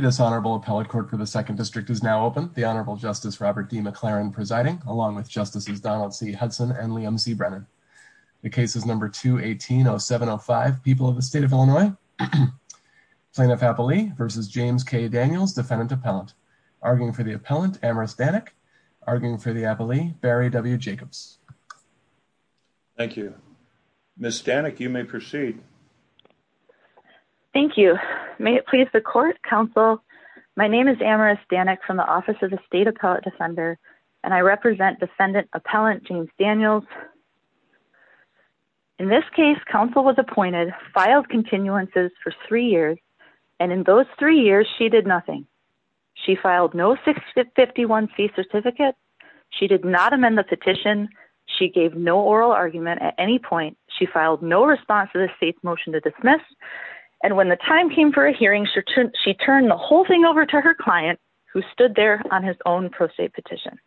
This honorable appellate court for the Second District is now open. The Honorable Justice Robert D. McLaren presiding, along with Justices Donald C. Hudson and Liam C. Brennan. The case is No. 2-180705, People of the State of Illinois. Plaintiff Appellee v. James K. Daniels, Defendant Appellant. Arguing for the Appellant, Amaris Danek. Arguing for the Thank you. May it please the court, counsel, my name is Amaris Danek from the Office of the State Appellate Defender, and I represent Defendant Appellant James Daniels. In this case, counsel was appointed, filed continuances for three years, and in those three years she did nothing. She filed no 651C certificate. She did not amend the petition. She gave no state motion to dismiss, and when the time came for a hearing, she turned the whole thing over to her client, who stood there on his own pro se petition.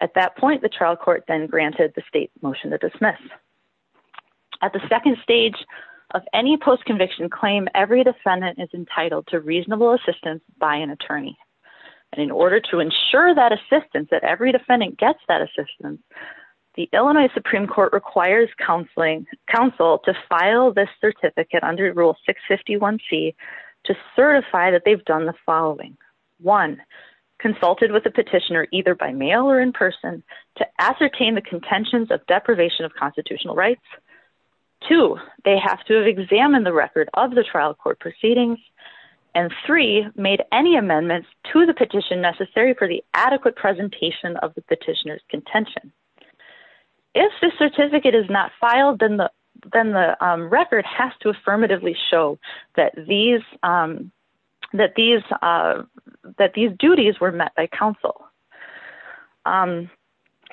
At that point, the trial court then granted the state motion to dismiss. At the second stage of any post-conviction claim, every defendant is entitled to reasonable assistance by an attorney. And in order to ensure that assistance, that every defendant gets that assistance, the Illinois Supreme Court requires counsel to file this certificate under Rule 651C to certify that they've done the following. One, consulted with the petitioner either by mail or in person to ascertain the contentions of deprivation of constitutional rights. Two, they have to have examined the record of the trial court proceedings. And three, made any amendments to the petition necessary for the adequate presentation of the petitioner's contention. If the certificate is not filed, then the record has to affirmatively show that these duties were met by counsel.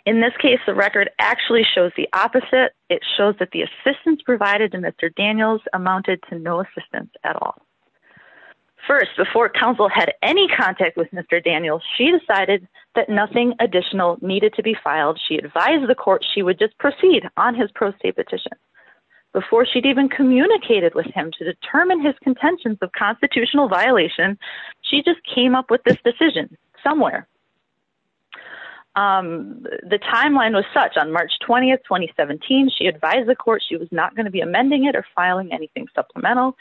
In this case, the record actually shows the opposite. It shows that the assistance provided to Mr. Daniels amounted to no assistance at all. First, before counsel had any contact with Mr. Daniels, she decided that nothing additional needed to be filed. She advised the court she would just proceed on his pro se petition. Before she'd even communicated with him to determine his contentions of constitutional violation, she just came up with this decision somewhere. The timeline was such on March 20th, 2017, she advised the court she was not going to be amending it or filing anything supplemental.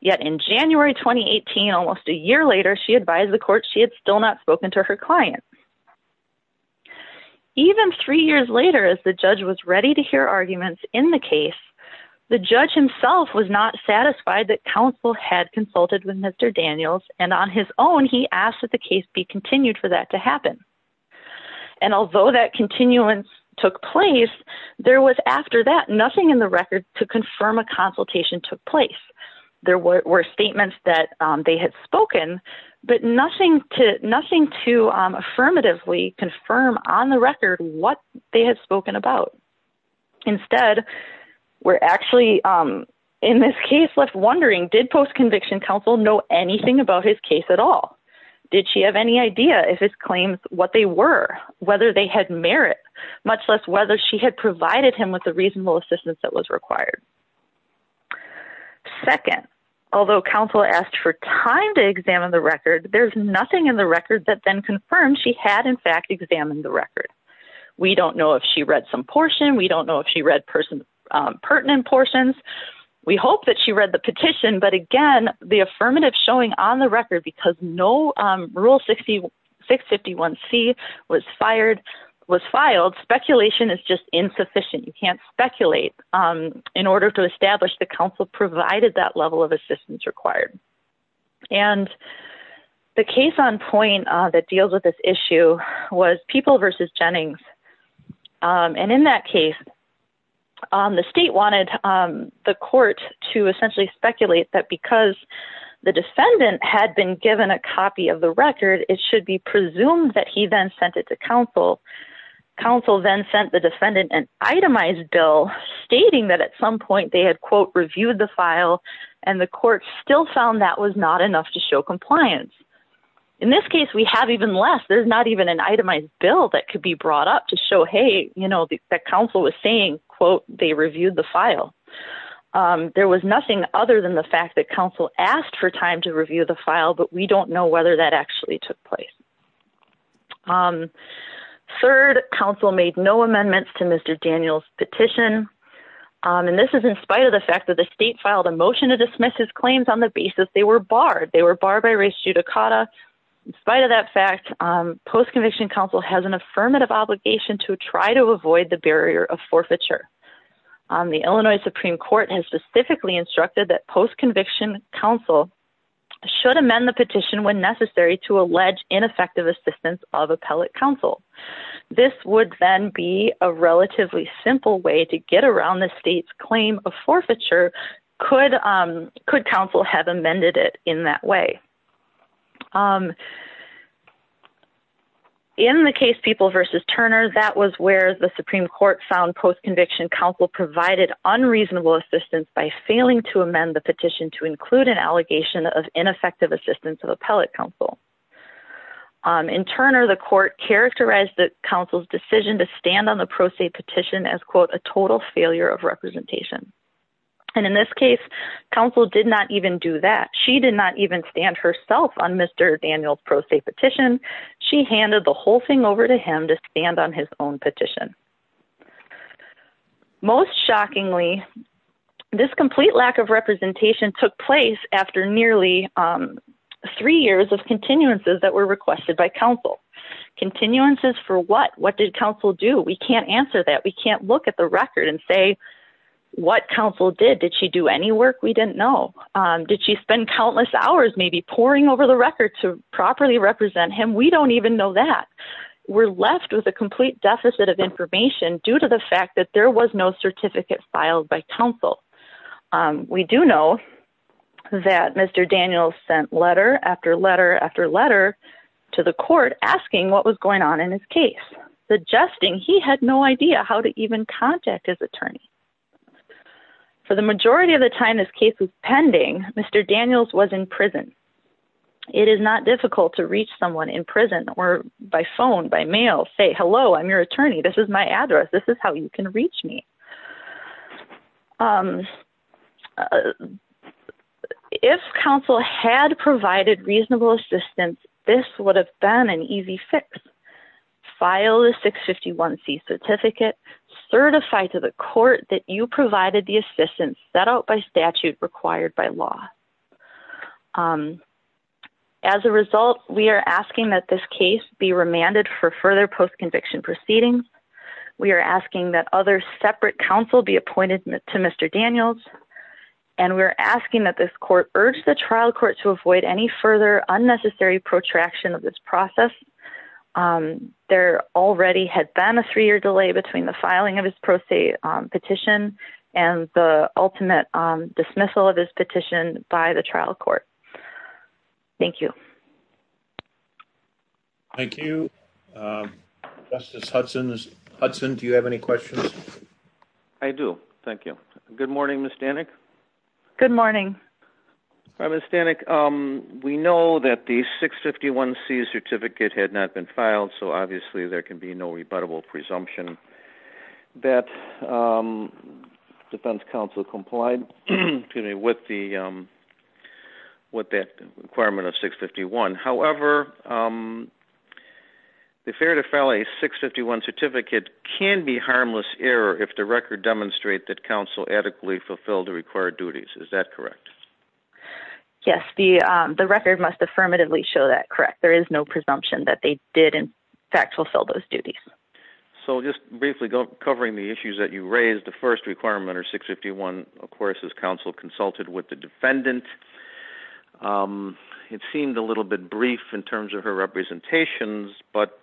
Yet in January 2018, almost a year later, she advised the court she had still not spoken to her client. Even three years later, as the judge was ready to hear arguments in the case, the judge himself was not satisfied that counsel had consulted with Mr. Daniels. And on his own, he asked that the case be continued for that to happen. And although that continuance took place, there was after that nothing in the record to confirm a consultation took place. There were statements that they had spoken, but nothing to nothing to affirmatively confirm on the record what they had spoken about. Instead, we're actually in this case left wondering did post conviction counsel know anything about his case at all? Did she have any idea if his claims what they were, whether they had merit, much less whether she had provided him with the reasonable assistance that was required. Second, although counsel asked for time to examine the record, there's nothing in the record that then confirmed she had in fact examined the record. We don't know if she read some portion. We don't know if she read person pertinent portions. We hope that she read the petition. But again, the affirmative showing on the record because no rule 60 651 C was fired was filed speculation is just insufficient. You can't speculate in order to establish the council provided that level of assistance required. And the case on point that deals with this issue was people versus Jennings. And in that case, on the state wanted the court to essentially speculate that because the defendant had been given a copy of the record, it should be presumed that he then sent it to counsel. Council then sent the defendant an itemized bill stating that at some point they had quote, reviewed the file, and the court still found that was not enough to show compliance. In this case, we have even less, there's not even an itemized bill that could be brought up to show, hey, you know, the council was saying, quote, they reviewed the file. There was nothing other than the fact that council asked for time to review the file, but we don't know whether that actually took place. Third, council made no amendments to Mr. Daniels petition. And this is in spite of the fact that the state filed a motion to dismiss his claims on the basis they were barred, they were barred by race judicata. In spite of that fact, post conviction council has an affirmative obligation to try to avoid the barrier of forfeiture. The Illinois Supreme Court has specifically instructed that post conviction counsel should amend the petition when necessary to allege ineffective assistance of appellate counsel. This would then be a relatively simple way to get around the state's claim of forfeiture. Could, um, could counsel have amended it in that way? Um, in the case people versus Turner, that was where the Supreme Court found post refusing to amend the petition to include an allegation of ineffective assistance of appellate counsel. Um, in Turner, the court characterized the council's decision to stand on the pro se petition as quote, a total failure of representation. And in this case, council did not even do that. She did not even stand herself on Mr. Daniels pro se petition. She handed the whole thing over to him to stand on his own petition. Most shockingly, this complete lack of representation took place after nearly, um, three years of continuances that were requested by council continuances for what, what did council do? We can't answer that. We can't look at the record and say what council did. Did she do any work? We didn't know. Um, did she spend countless hours, maybe pouring over the record to properly represent him? We don't even know that we're left with a complete deficit of information due to the fact that there was no certificate filed by council. Um, we do know that Mr. Daniels sent letter after letter, after letter to the court asking what was going on in his case, suggesting he had no idea how to even contact his attorney. For the majority of the time, this case was pending. Mr. Daniels was in prison. It is not difficult to reach someone in prison or by phone, by mail, say, hello, I'm your attorney. This is my address. This is how you can reach me. Um, if council had provided reasonable assistance, this would have been an easy fix. File the six 51 C certificate certified to the court that you provided the by statute required by law. Um, as a result, we are asking that this case be remanded for further post conviction proceedings. We are asking that other separate council be appointed to Mr. Daniels. And we're asking that this court urged the trial court to avoid any further unnecessary protraction of this process. Um, there already had been a three year delay between the filing of his pro se petition and the ultimate dismissal of his petition by the trial court. Thank you. Thank you. Um, Justice Hudson's Hudson. Do you have any questions? I do. Thank you. Good morning, Miss Danik. Good morning. I was standing. Um, we know that the six 51 C certificate had not been filed. So obviously there can be no rebuttable presumption that, um, defense council complied with the, um, what that requirement of six 51. However, um, the fair to file a six 51 certificate can be harmless error. If the record demonstrate that council adequately fulfilled the required duties. Is that correct? Yes. The, um, the record must affirmatively show that correct. There is no presumption that they did in fact fulfill those duties. So just briefly go covering the issues that you raised the first requirement or six 51. Of course, his counsel consulted with the defendant. Um, it seemed a little bit brief in terms of her representations, but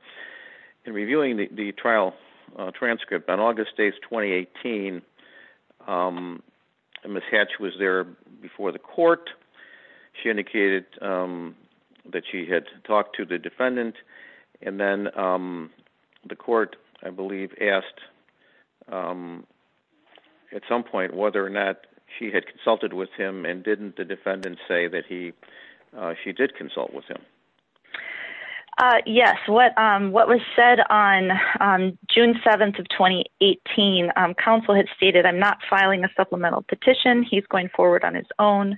in reviewing the trial transcript on August days, 2018, um, Ms. Hatch was there before the court. She indicated, um, that she had talked to the defendant and then, um, the court, I believe asked, um, at some point whether or not she had consulted with him and didn't the defendant say that he, uh, she did consult with him. Uh, yes. What, um, what was said on, um, June 7th of 2018, um, counsel had stated, I'm not filing a supplemental petition. He's going forward on his own.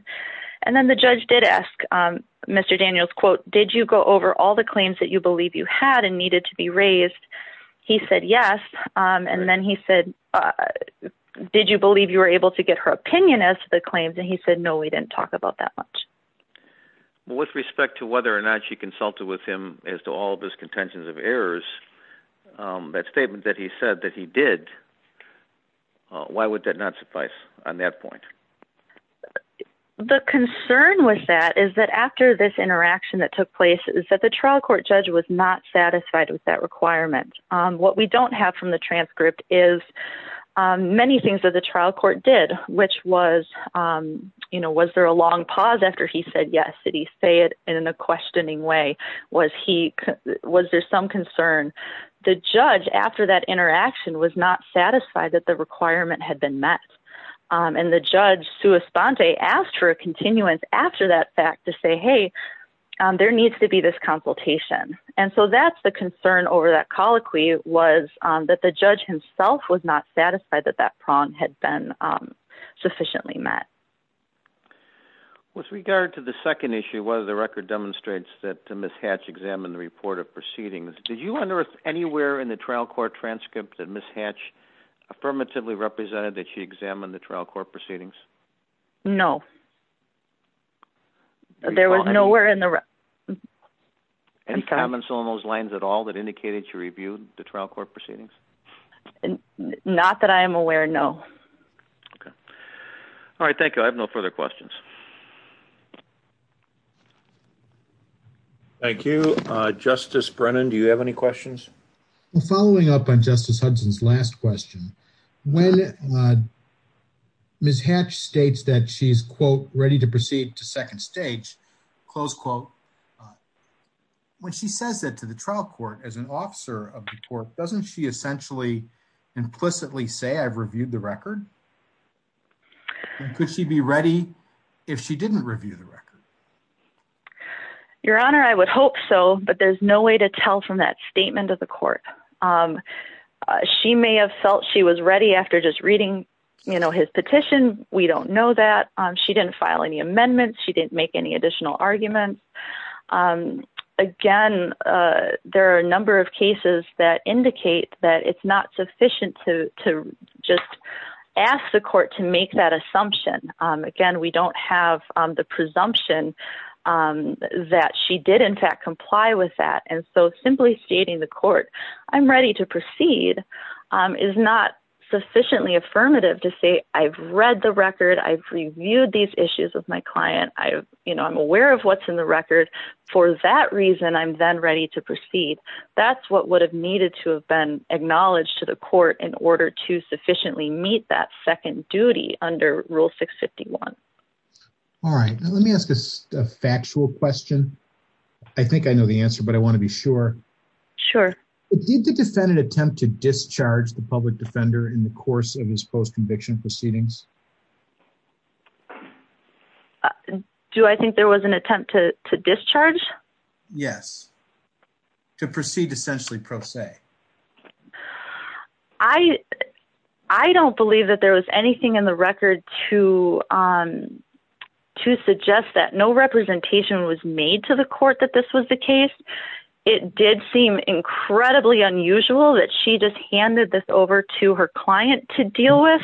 And then the judge did ask, um, Mr. Daniels quote, did you go over all the claims that you believe you had and needed to be raised? He said, yes. Um, and then he said, uh, did you believe you were able to get her opinion as to the claims? And he said, no, we didn't talk about that much with respect to whether or not she consulted with him as to all of his contentions of errors. Um, that statement that he said that he did, uh, why would that not suffice on that point? The concern with that is that after this interaction that took place is that the trial court judge was not satisfied with that requirement. Um, what we don't have from the transcript is, um, many things that the trial court did, which was, um, you know, was there a long pause after he said yes, did he say it in a questioning way? Was he, was there some concern the judge after that interaction was not satisfied that the requirement had been met? Um, and the judge Sue Esponte asked for a continuance after that fact to say, Hey, um, there needs to be this consultation. And so that's the concern over that colloquy was, um, that the judge himself was not satisfied that that prong had been, um, efficiently met. With regard to the second issue, whether the record demonstrates that Ms. Hatch examined the report of proceedings, did you wonder if anywhere in the trial court transcript that Ms. Hatch affirmatively represented that she examined the trial court proceedings? No, there was nowhere in the. Any comments on those lines at all that indicated she reviewed the trial court proceedings? And not that I am aware. No. Okay. All right. Thank you. I have no further questions. Thank you, Justice Brennan. Do you have any questions following up on Justice Hudson's last question? When, uh, Ms Hatch states that she's quote ready to proceed to second stage close quote, uh, when she says that to the trial court as an officer of the court, doesn't she essentially implicitly say I've reviewed the record? Could she be ready if she didn't review the record? Your honor, I would hope so, but there's no way to tell from that statement of the court. Um, she may have felt she was ready after just reading, you know, his petition. We don't know that she didn't file any amendments. She didn't make any additional arguments. Um, again, uh, there are a number of cases that indicate that it's not sufficient to, to just ask the court to make that assumption. Um, again, we don't have the presumption, um, that she did in fact comply with that. And so simply stating the court I'm ready to proceed, um, is not sufficiently affirmative to say I've read the record. I've reviewed these issues with my client. I've, you know, I'm aware of what's in the record for that reason. I'm then ready to proceed. That's what would have needed to have been acknowledged to the court in order to sufficiently meet that second duty under rule 651. All right. Now let me ask a factual question. I think I know the answer, but I want to be sure. Sure. Did the defendant attempt to discharge the course of his post conviction proceedings? Do I think there was an attempt to discharge? Yes. To proceed essentially pro se. I, I don't believe that there was anything in the record to, um, to suggest that no representation was made to the court that this was the case. It did seem incredibly unusual that she just handed this over to her client to deal with.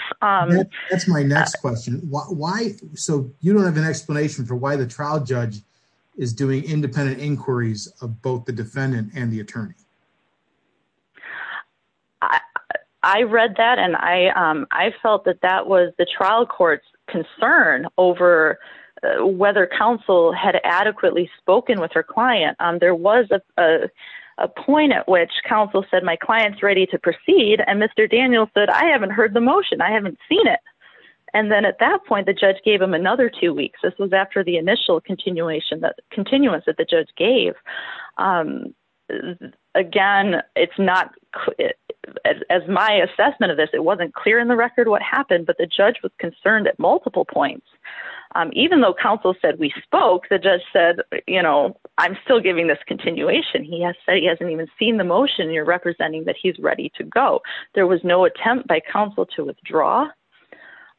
That's my next question. Why? So you don't have an explanation for why the trial judge is doing independent inquiries of both the defendant and the attorney. I read that and I, um, I felt that that was the trial court's concern over whether counsel had adequately spoken with her client. Um, there was a, uh, a point at which counsel said, my client's ready to proceed. And Mr. Daniel said, I haven't heard the motion. I haven't seen it. And then at that point, the judge gave him another two weeks. This was after the initial continuation that continuance that the judge gave. Um, again, it's not as my assessment of this, it wasn't clear in the record what happened, but the judge was concerned at multiple points. Um, even though counsel said, we spoke, the judge said, you know, I'm still giving this continuation. He has said he hasn't even seen the motion you're representing that he's ready to go. There was no attempt by counsel to withdraw.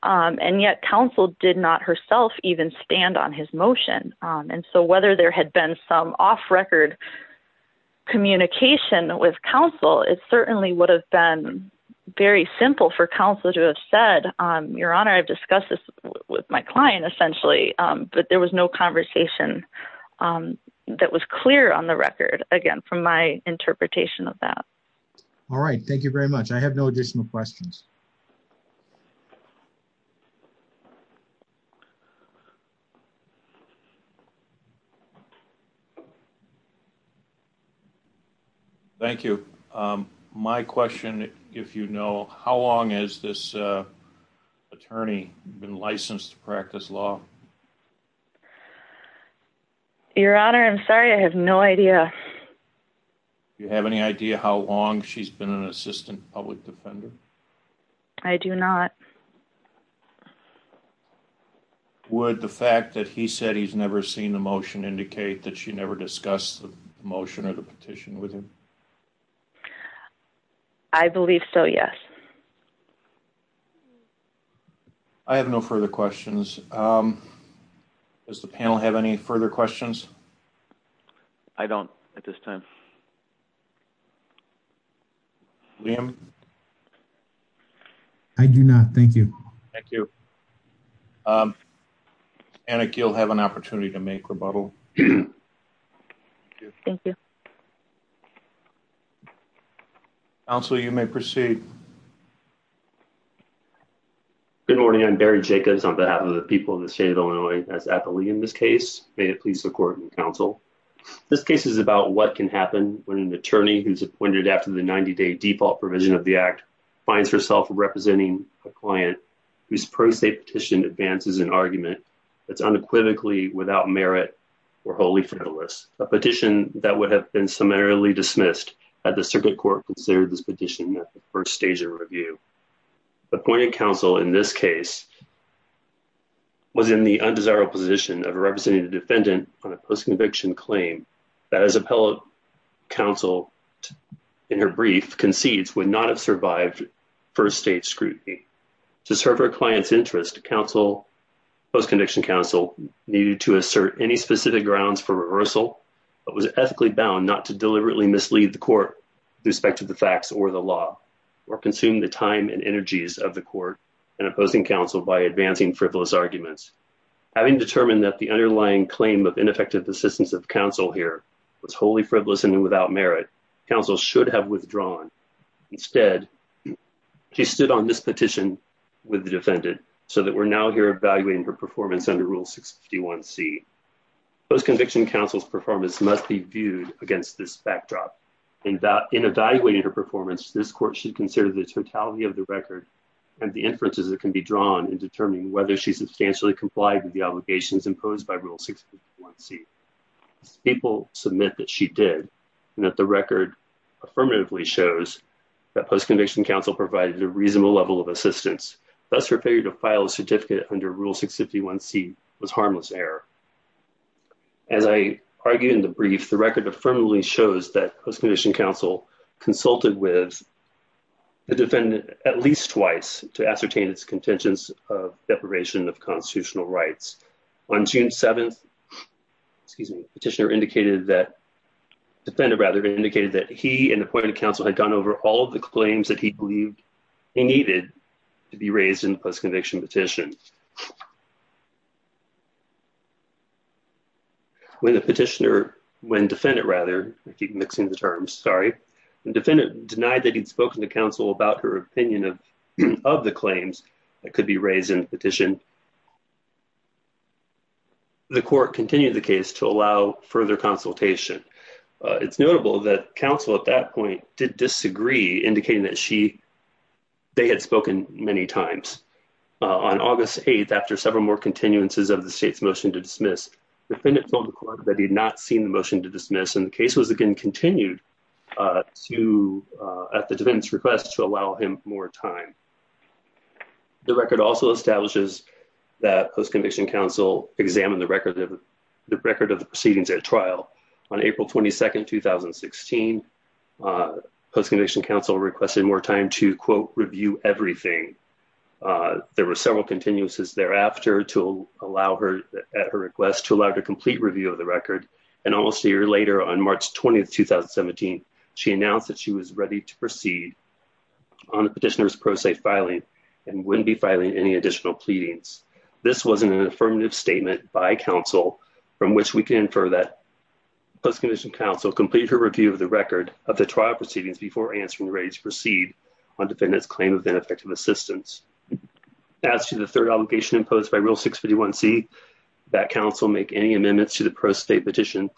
Um, and yet counsel did not herself even stand on his motion. Um, and so whether there had been some off record communication with counsel, it certainly would have been very simple for counsel to have said, um, your honor, I've discussed this with my client essentially. Um, but there was no conversation, um, that was clear on the record again, from my interpretation of that. All right. Thank you very much. I have no additional questions. Thank you. Um, my question, if you know, how long has this, uh, attorney been licensed to practice law? Your honor, I'm sorry. I have no idea. Do you have any idea how long she's been an assistant public defender? I do not. Would the fact that he said he's never seen the motion indicate that she never discussed the motion or the petition with him? I believe so. Yes. I have no further questions. Um, does the panel have any further questions? I don't at this time. I do not. Thank you. Thank you. Um, and you'll have an opportunity to make rebuttal. Thank you. Also, you may proceed. Good morning. I'm Barry Jacobs on behalf of the people of the state of Illinois. That's when an attorney who's appointed after the 90-day default provision of the act finds herself representing a client whose pro se petition advances an argument that's unequivocally without merit or wholly frivolous. A petition that would have been summarily dismissed at the circuit court considered this petition at the first stage of review. Appointed counsel in this case was in the undesirable position of representing the counsel in her brief concedes would not have survived first-stage scrutiny. To serve her client's interest, post-conviction counsel needed to assert any specific grounds for reversal, but was ethically bound not to deliberately mislead the court with respect to the facts or the law or consume the time and energies of the court in opposing counsel by advancing frivolous arguments. Having determined that the underlying claim of ineffective assistance of counsel here was wholly frivolous and without merit, counsel should have withdrawn. Instead, she stood on this petition with the defendant so that we're now here evaluating her performance under Rule 651C. Post-conviction counsel's performance must be viewed against this backdrop. In evaluating her performance, this court should consider the totality of the record and the inferences that can be drawn in determining whether she substantially complied with the obligations imposed by Rule 651C. People submit that she did and that the record affirmatively shows that post-conviction counsel provided a reasonable level of assistance. Thus, her failure to file a certificate under Rule 651C was harmless error. As I argued in the brief, the record affirmatively shows that post-conviction counsel consulted with the defendant at least twice to ascertain its contentions of deprivation of constitutional rights. On June 7th, the petitioner indicated that, the defendant rather, indicated that he and appointed counsel had gone over all the claims that he believed he needed to be raised in post-conviction petition. When the petitioner, when defendant rather, I keep mixing the terms, sorry, the defendant denied that he'd spoken to counsel about her opinion of the claims that could be raised in the petition. The court continued the case to allow further consultation. It's notable that counsel at that point did disagree indicating that she, they had spoken many times. On August 8th, after several more continuances of the state's motion to dismiss, the defendant told the motion to dismiss and the case was again continued to, at the defendant's request, to allow him more time. The record also establishes that post-conviction counsel examined the record of the proceedings at trial. On April 22nd, 2016, post-conviction counsel requested more time to quote, review everything. There were several continuances thereafter to allow her, at her later on March 20th, 2017, she announced that she was ready to proceed on the petitioner's pro-state filing and wouldn't be filing any additional pleadings. This wasn't an affirmative statement by counsel from which we can infer that post-conviction counsel completed her review of the record of the trial proceedings before answering ready to proceed on defendant's claim of ineffective assistance. As to the third obligation imposed by rule 651c, that counsel make any amendments to the pro-state petition,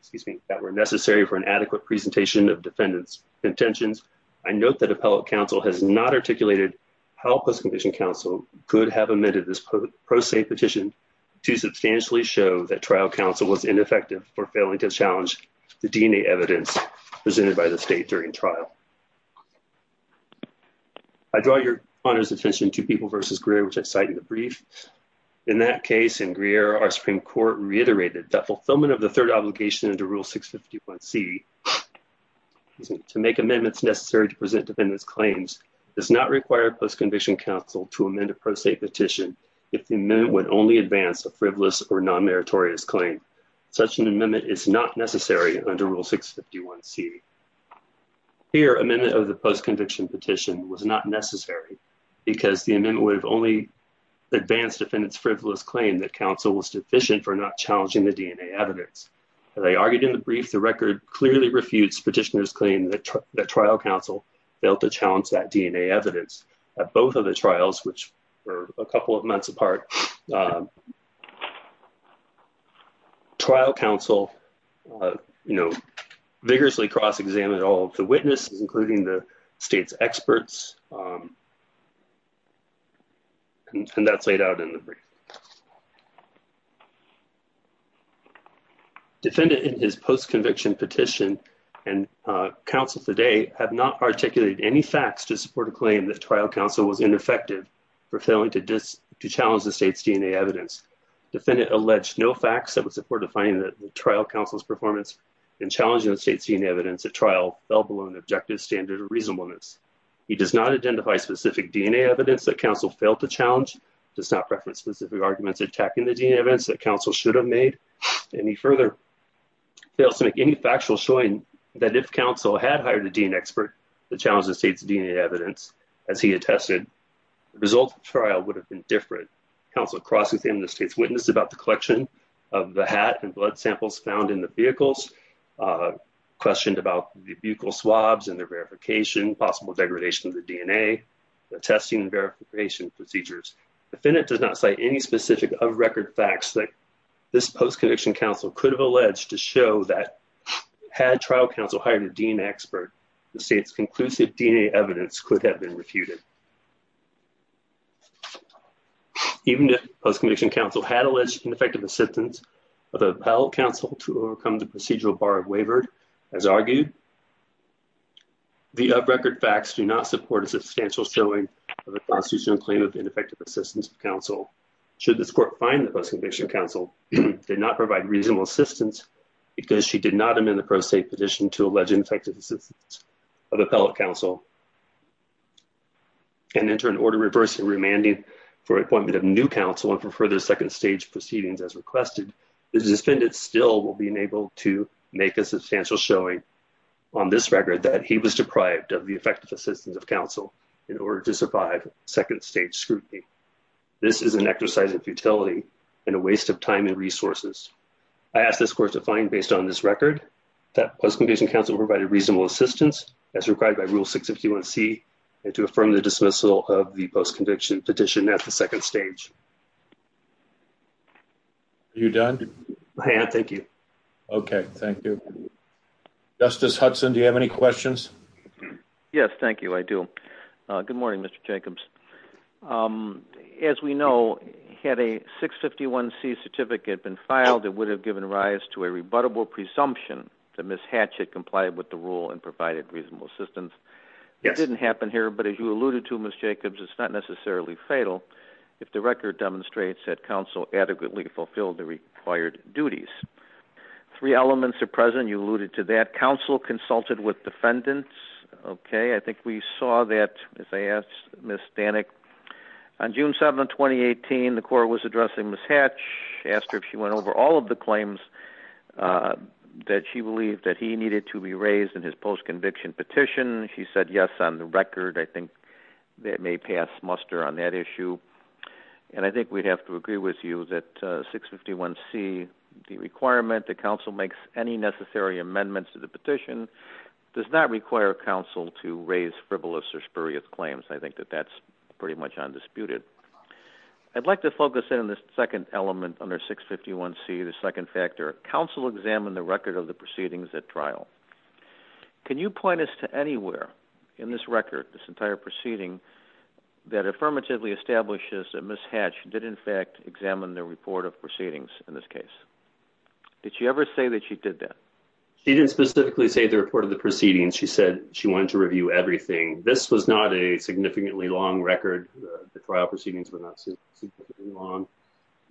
excuse me, that were necessary for an adequate presentation of defendant's intentions, I note that appellate counsel has not articulated how post-conviction counsel could have amended this pro-state petition to substantially show that trial counsel was ineffective for failing to challenge the DNA evidence presented by the state during trial. I draw your honor's attention to People v. Greer, which I cite in the brief. In that case, in Greer, our Supreme Court reiterated that fulfillment of the third obligation under rule 651c, excuse me, to make amendments necessary to present defendant's claims does not require post-conviction counsel to amend a pro-state petition if the amendment would only advance a frivolous or non-meritorious claim. Such an amendment is not necessary under rule 651c. Here, amendment of the post-conviction petition was not necessary because the amendment would have only advanced defendant's frivolous claim that counsel was deficient for not challenging the DNA evidence. As I argued in the brief, the record clearly refutes petitioner's claim that trial counsel failed to challenge that DNA evidence at both of the trials, which were a couple of months apart. Trial counsel, you know, vigorously cross-examined all of the witnesses, including the state's experts, and that's laid out in the brief. Defendant in his post-conviction petition and counsel today have not articulated any facts to support a claim that trial counsel was ineffective for failing to challenge the state's DNA evidence. Defendant alleged no facts that would support defining the trial counsel's in challenging the state's DNA evidence at trial, let alone objective, standard, or reasonableness. He does not identify specific DNA evidence that counsel failed to challenge, does not reference specific arguments attacking the DNA evidence that counsel should have made, and he further fails to make any factual showing that if counsel had hired a DNA expert to challenge the state's DNA evidence, as he attested, the result of the trial would have been different. Counsel cross-examined the state's witness about the collection of the hat and blood samples found in the vehicles, questioned about the buccal swabs and their verification, possible degradation of the DNA, the testing and verification procedures. Defendant does not cite any specific of record facts that this post-conviction counsel could have alleged to show that had trial counsel hired a DNA expert, the state's conclusive DNA evidence could have been refuted. Even if post-conviction counsel had alleged ineffective assistance of appellate counsel to overcome the procedural bar of wavered, as argued, the up-record facts do not support a substantial showing of a constitutional claim of ineffective assistance of counsel. Should this court find that post-conviction counsel did not provide reasonable assistance because she did not amend the pro se petition to allege ineffective assistance of appellate counsel, and enter an order reversing remanding for appointment of new counsel and for further second-stage proceedings as requested, the defendant still will be enabled to make a substantial showing on this record that he was deprived of the effective assistance of counsel in order to survive second-stage scrutiny. This is an exercise of futility and a waste of time and resources. I ask this court to find, based on this record, that post-conviction counsel provided reasonable assistance as required by Rule 651C and to affirm the dismissal of the petition at the second stage. Are you done? Thank you. Okay, thank you. Justice Hudson, do you have any questions? Yes, thank you, I do. Good morning, Mr. Jacobs. As we know, had a 651C certificate been filed, it would have given rise to a rebuttable presumption that Ms. Hatch had complied with the rule and provided reasonable assistance. It didn't happen here, but as you alluded to, it's not necessarily fatal if the record demonstrates that counsel adequately fulfilled the required duties. Three elements are present. You alluded to that. Counsel consulted with defendants. Okay, I think we saw that, as I asked Ms. Stanek. On June 7, 2018, the court was addressing Ms. Hatch. She asked her if she went over all of the claims that she believed that he needed to be raised in his post-conviction petition. She said yes on the record. I think that may pass muster on that issue, and I think we'd have to agree with you that 651C, the requirement that counsel makes any necessary amendments to the petition, does not require counsel to raise frivolous or spurious claims. I think that that's pretty much undisputed. I'd like to focus in on the second element under 651C, the second factor. Counsel examined the record of the proceedings at trial. Can you point us to anywhere in this record, this entire proceeding, that affirmatively establishes that Ms. Hatch did, in fact, examine the report of proceedings in this case? Did she ever say that she did that? She didn't specifically say the report of the proceedings. She said she wanted to review everything. This was not a significantly long record. The trial proceedings were not significantly long,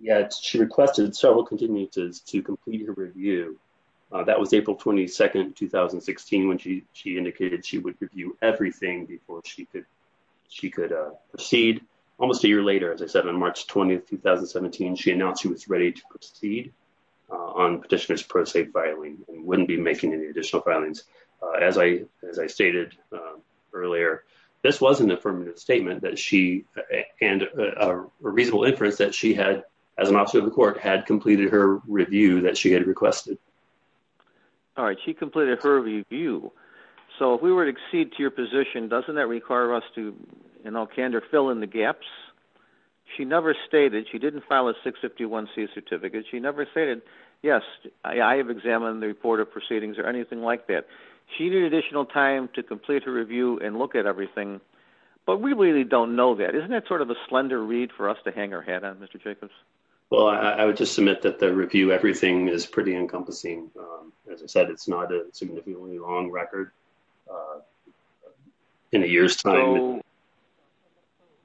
yet she requested several continuances to complete her review. That was April 22, 2016, when she indicated she would review everything before she could proceed. Almost a year later, as I said, on March 20, 2017, she announced she was ready to proceed on petitioner's pro se filing and wouldn't be making any additional filings. As I stated earlier, this was an affirmative statement that she, and a reasonable inference that she had, as an officer of the court, had completed her review. So if we were to accede to your position, doesn't that require us to, in all candor, fill in the gaps? She never stated, she didn't file a 651C certificate, she never stated, yes, I have examined the report of proceedings or anything like that. She needed additional time to complete her review and look at everything, but we really don't know that. Isn't that sort of a slender read for us to hang our hat on, Mr. Jacobs? Well, I would just admit that the review everything is pretty encompassing. As I said, it's not a significantly long record in a year's time. So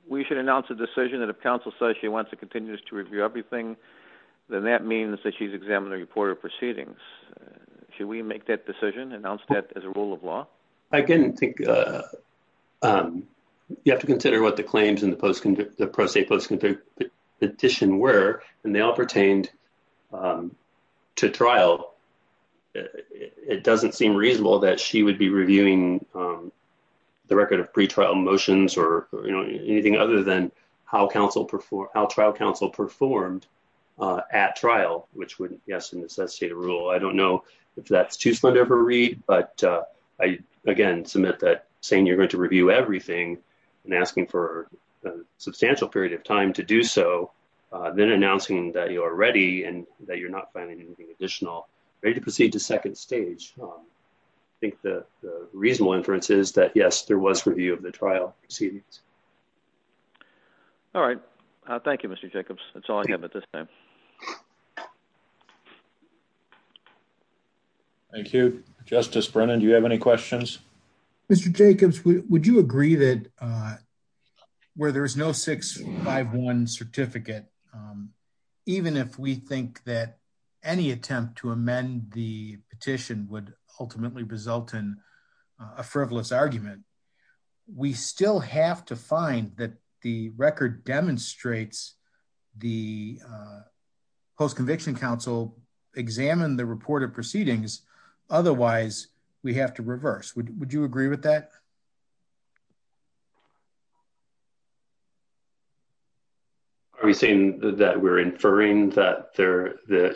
we should announce a decision that if counsel says she wants to continue to review everything, then that means that she's examined the report of proceedings. Should we make that decision, announce that as a rule of law? Again, I think you have to consider what the claims in the pro se post-conviction petition were, and they all pertained to trial. It doesn't seem reasonable that she would be reviewing the record of pretrial motions or anything other than how trial counsel performed at trial, which would, yes, necessitate a rule. I don't know if that's too slender of a read, but I, again, submit that you're going to review everything and asking for a substantial period of time to do so, then announcing that you're ready and that you're not planning anything additional, ready to proceed to second stage. I think the reasonable inference is that, yes, there was review of the trial proceedings. All right. Thank you, Mr. Jacobs. That's all I have for today. Mr. Jacobs, would you agree that where there's no 651 certificate, even if we think that any attempt to amend the petition would ultimately result in a frivolous argument, we still have to find that the record demonstrates the post-conviction counsel examined the report of proceedings. Otherwise, we have to reverse. Would you agree with that? Are we saying that we're inferring that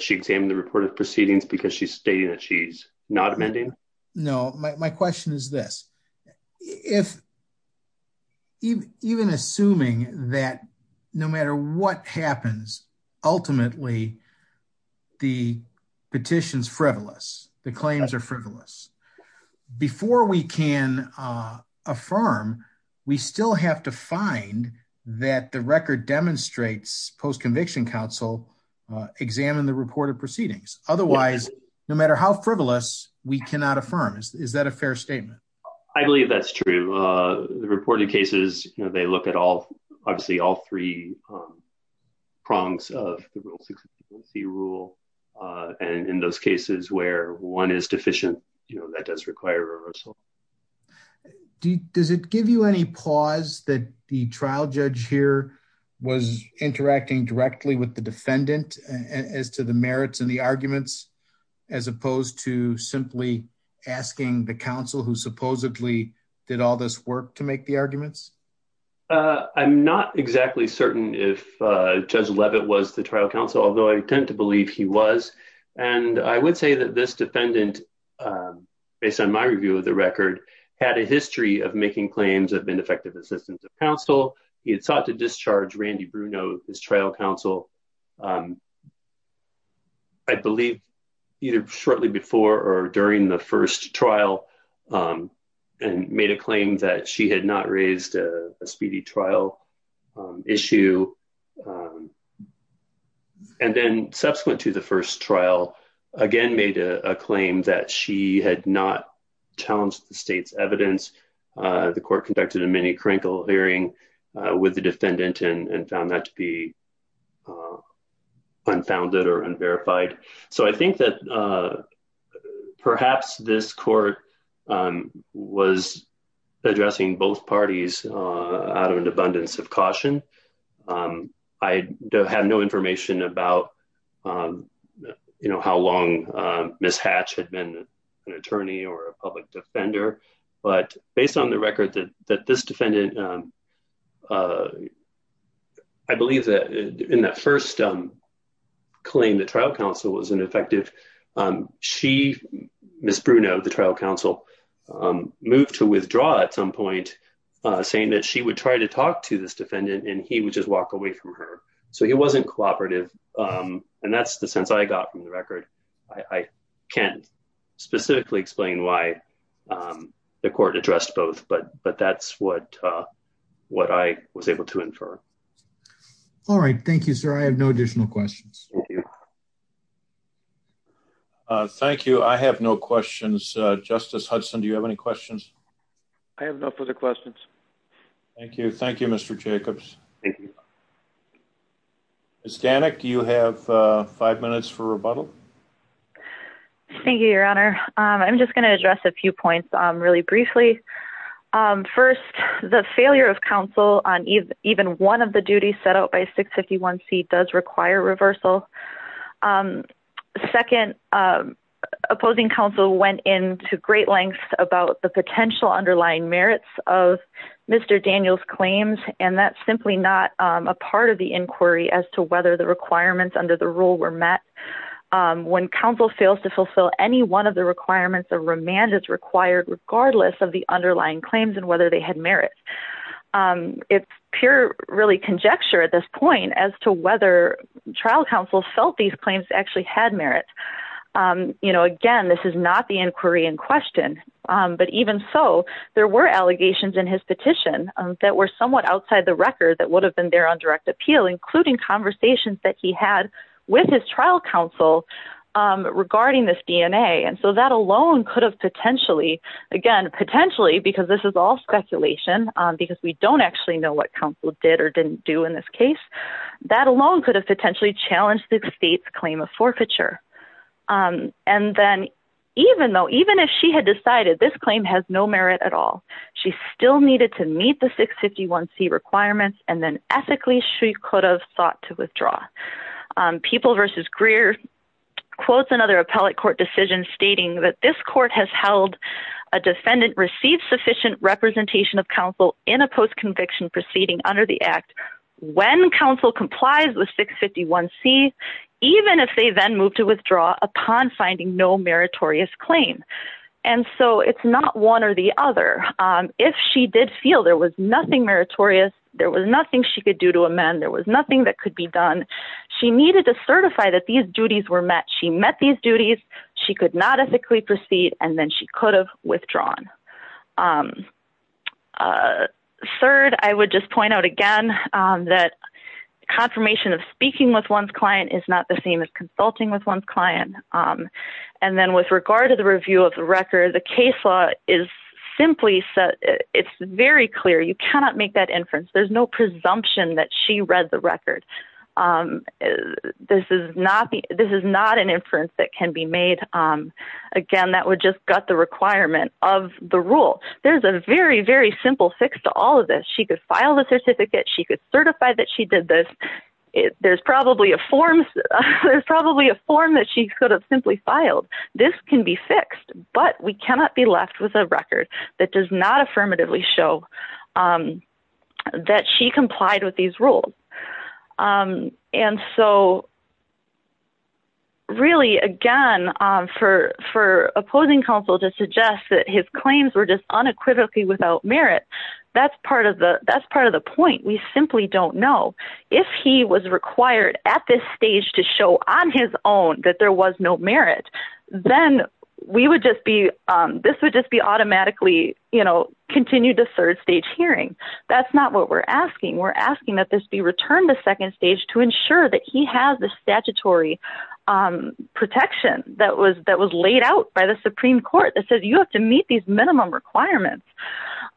she examined the report of proceedings because she's stating that she's not amending? No. My question is this. Even assuming that no matter what happens, ultimately, the petition's frivolous, the claims are frivolous. Before we can affirm, we still have to find that the record demonstrates post-conviction counsel examined the report of proceedings. Otherwise, no matter how frivolous, we cannot affirm. Is that a fair statement? I believe that's true. The reported cases, they look at obviously all three prongs of the rule. In those cases where one is deficient, that does require reversal. Does it give you any pause that the trial judge here was interacting directly with the defendant as to the merits and the arguments as opposed to simply asking the counsel who supposedly did all this work to make the arguments? I'm not exactly certain if Judge Leavitt was the trial counsel, although I tend to believe he was. I would say that this defendant, based on my review of the record, had a history of making claims of ineffective assistance of counsel. He had sought to discharge Randy Bruno, his trial counsel, I believe, either shortly before or during the first trial, and made a claim that she had not raised a speedy trial issue. And then subsequent to the first trial, again, made a claim that she had not challenged the state's evidence. The court conducted a mini-crankle hearing with the defendant and found that to be unfounded or unverified. So I think that perhaps this court was addressing both parties out of an abundance of caution. I have no information about how long Ms. Hatch had been an attorney or a public defender, but based on the record that this defendant, I believe that in that first claim, the trial counsel was ineffective. She, Ms. Bruno, the trial counsel, moved to withdraw at some point, saying that she would try to talk to this defendant and he would just walk away from her. So he wasn't cooperative, and that's the sense I got from the record. I can't specifically explain why the court addressed both, but that's what I was able to infer. All right. Thank you, sir. I have no additional questions. Thank you. I have no questions. Justice Hudson, do you have any questions? I have no further questions. Thank you. Thank you, Mr. Jacobs. Thank you. Ms. Danek, do you have five minutes for rebuttal? Thank you, Your Honor. I'm just going to address a few points really briefly. First, the failure of counsel on even one of the duties set out by 651C does require reversal. Second, opposing counsel went into great lengths about the potential underlying merits of Mr. Daniel's claims, and that's simply not a part of the inquiry as to whether the requirements under the rule were met. When counsel fails to fulfill any one of the requirements, a remand is required regardless of the underlying claims and whether they had merit. It's pure, really, conjecture at this point as to whether trial counsel felt these claims actually had merit. Again, this is not the inquiry in question, but even so, there were allegations in his petition that were somewhat outside the record that would have been there on direct appeal, including conversations that he had with his trial counsel regarding this DNA. That alone could have potentially, again, potentially, because this is all speculation, because we don't actually know what counsel did or didn't do in this case, that alone could have potentially challenged the state's claim of forfeiture. And then even though, even if she had decided this claim has no merit at all, she still needed to meet the 651C requirements, and then ethically, she could have sought to withdraw. People v. Greer quotes another appellate court decision stating that this court has held a defendant receive sufficient representation of counsel in a post-conviction proceeding under the upon finding no meritorious claim. And so, it's not one or the other. If she did feel there was nothing meritorious, there was nothing she could do to amend, there was nothing that could be done, she needed to certify that these duties were met. She met these duties, she could not ethically proceed, and then she could have withdrawn. Third, I would just point out again that confirmation of speaking with one's client is not the same as consulting with one's client. And then with regard to the review of the record, the case law is simply set, it's very clear, you cannot make that inference. There's no presumption that she read the record. This is not an inference that can be made. Again, that would just gut the requirement of the rule. There's a very, very simple fix to all of this. She could file the there's probably a form that she could have simply filed. This can be fixed, but we cannot be left with a record that does not affirmatively show that she complied with these rules. And so, really, again, for opposing counsel to suggest that his claims were just unequivocally without merit, that's part of the point. We simply don't know. If he was required at this stage to show on his own that there was no merit, then this would just be automatically continued to third stage hearing. That's not what we're asking. We're asking that this be returned to second stage to ensure that he has the statutory protection that was laid out by the Supreme Court that says you have to meet these minimum requirements.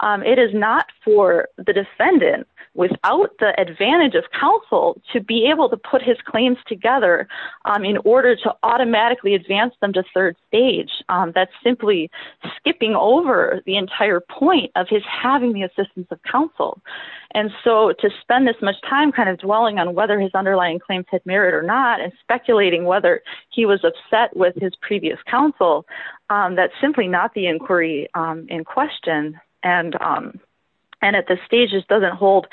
It is not for the defendant, without the advantage of counsel, to be able to put his claims together in order to automatically advance them to third stage. That's simply skipping over the entire point of his having the assistance of counsel. And so to spend this much time kind of dwelling on whether his underlying claims had merit or not and speculating whether he was upset with his previous counsel, that's simply not the inquiry in question. And at this stage, it doesn't hold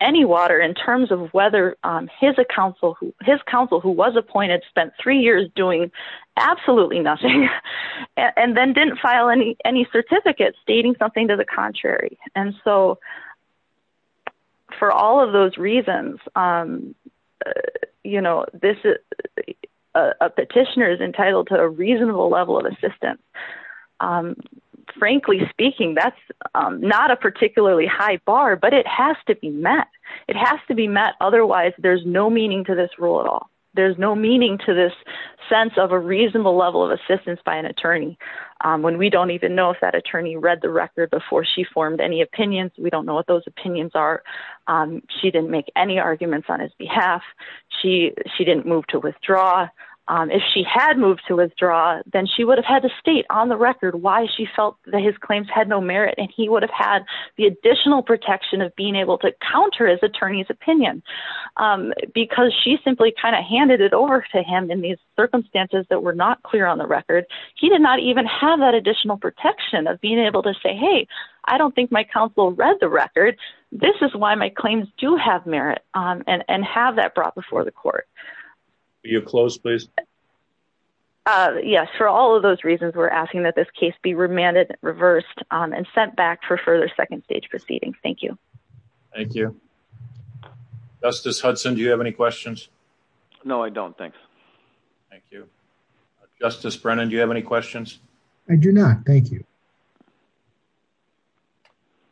any water in terms of whether his counsel who was appointed spent three years doing absolutely nothing and then didn't file any certificates stating something to the contrary. And so for all of those reasons, a petitioner is entitled to a hearing. Frankly speaking, that's not a particularly high bar, but it has to be met. It has to be met. Otherwise, there's no meaning to this rule at all. There's no meaning to this sense of a reasonable level of assistance by an attorney when we don't even know if that attorney read the record before she formed any opinions. We don't know what those opinions are. She didn't make any arguments on his behalf. She didn't move to withdraw. If she had moved to withdraw, then she would have had to state on the record why she felt that his claims had no merit. And he would have had the additional protection of being able to counter his attorney's opinion because she simply kind of handed it over to him in these circumstances that were not clear on the record. He did not even have that additional protection of being able to say, hey, I don't think my counsel read the record. This is why my claims do have merit and have that brought before the court. Are you closed, please? Yes. For all of those reasons, we're asking that this case be remanded, reversed and sent back for further second stage proceeding. Thank you. Thank you. Justice Hudson, do you have any questions? No, I don't think. Thank you. Justice Brennan, do you have any questions? I do not. Thank you.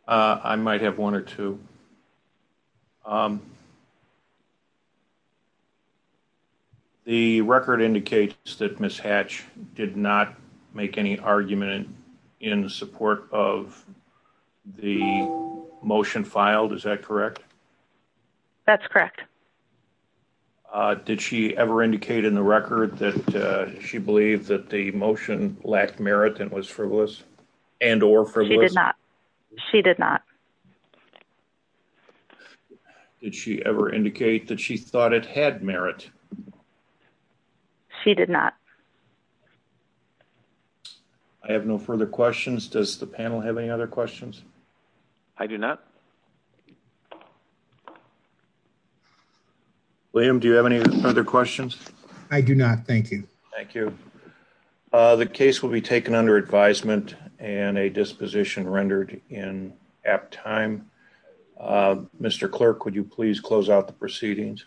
I might have one or two. The record indicates that Ms. Hatch did not make any argument in support of the motion filed. Is that correct? That's correct. Did she ever indicate in the record that she believed that the motion lacked merit and was frivolous and or frivolous? She did not. She did not. Did she ever indicate that she thought it had merit? She did not. I have no further questions. Does the panel have any other questions? I do not. William, do you have any other questions? I do not. Thank you. Thank you. The case will be taken under advisement and a disposition rendered in time. Mr. Clerk, would you please close out the proceedings?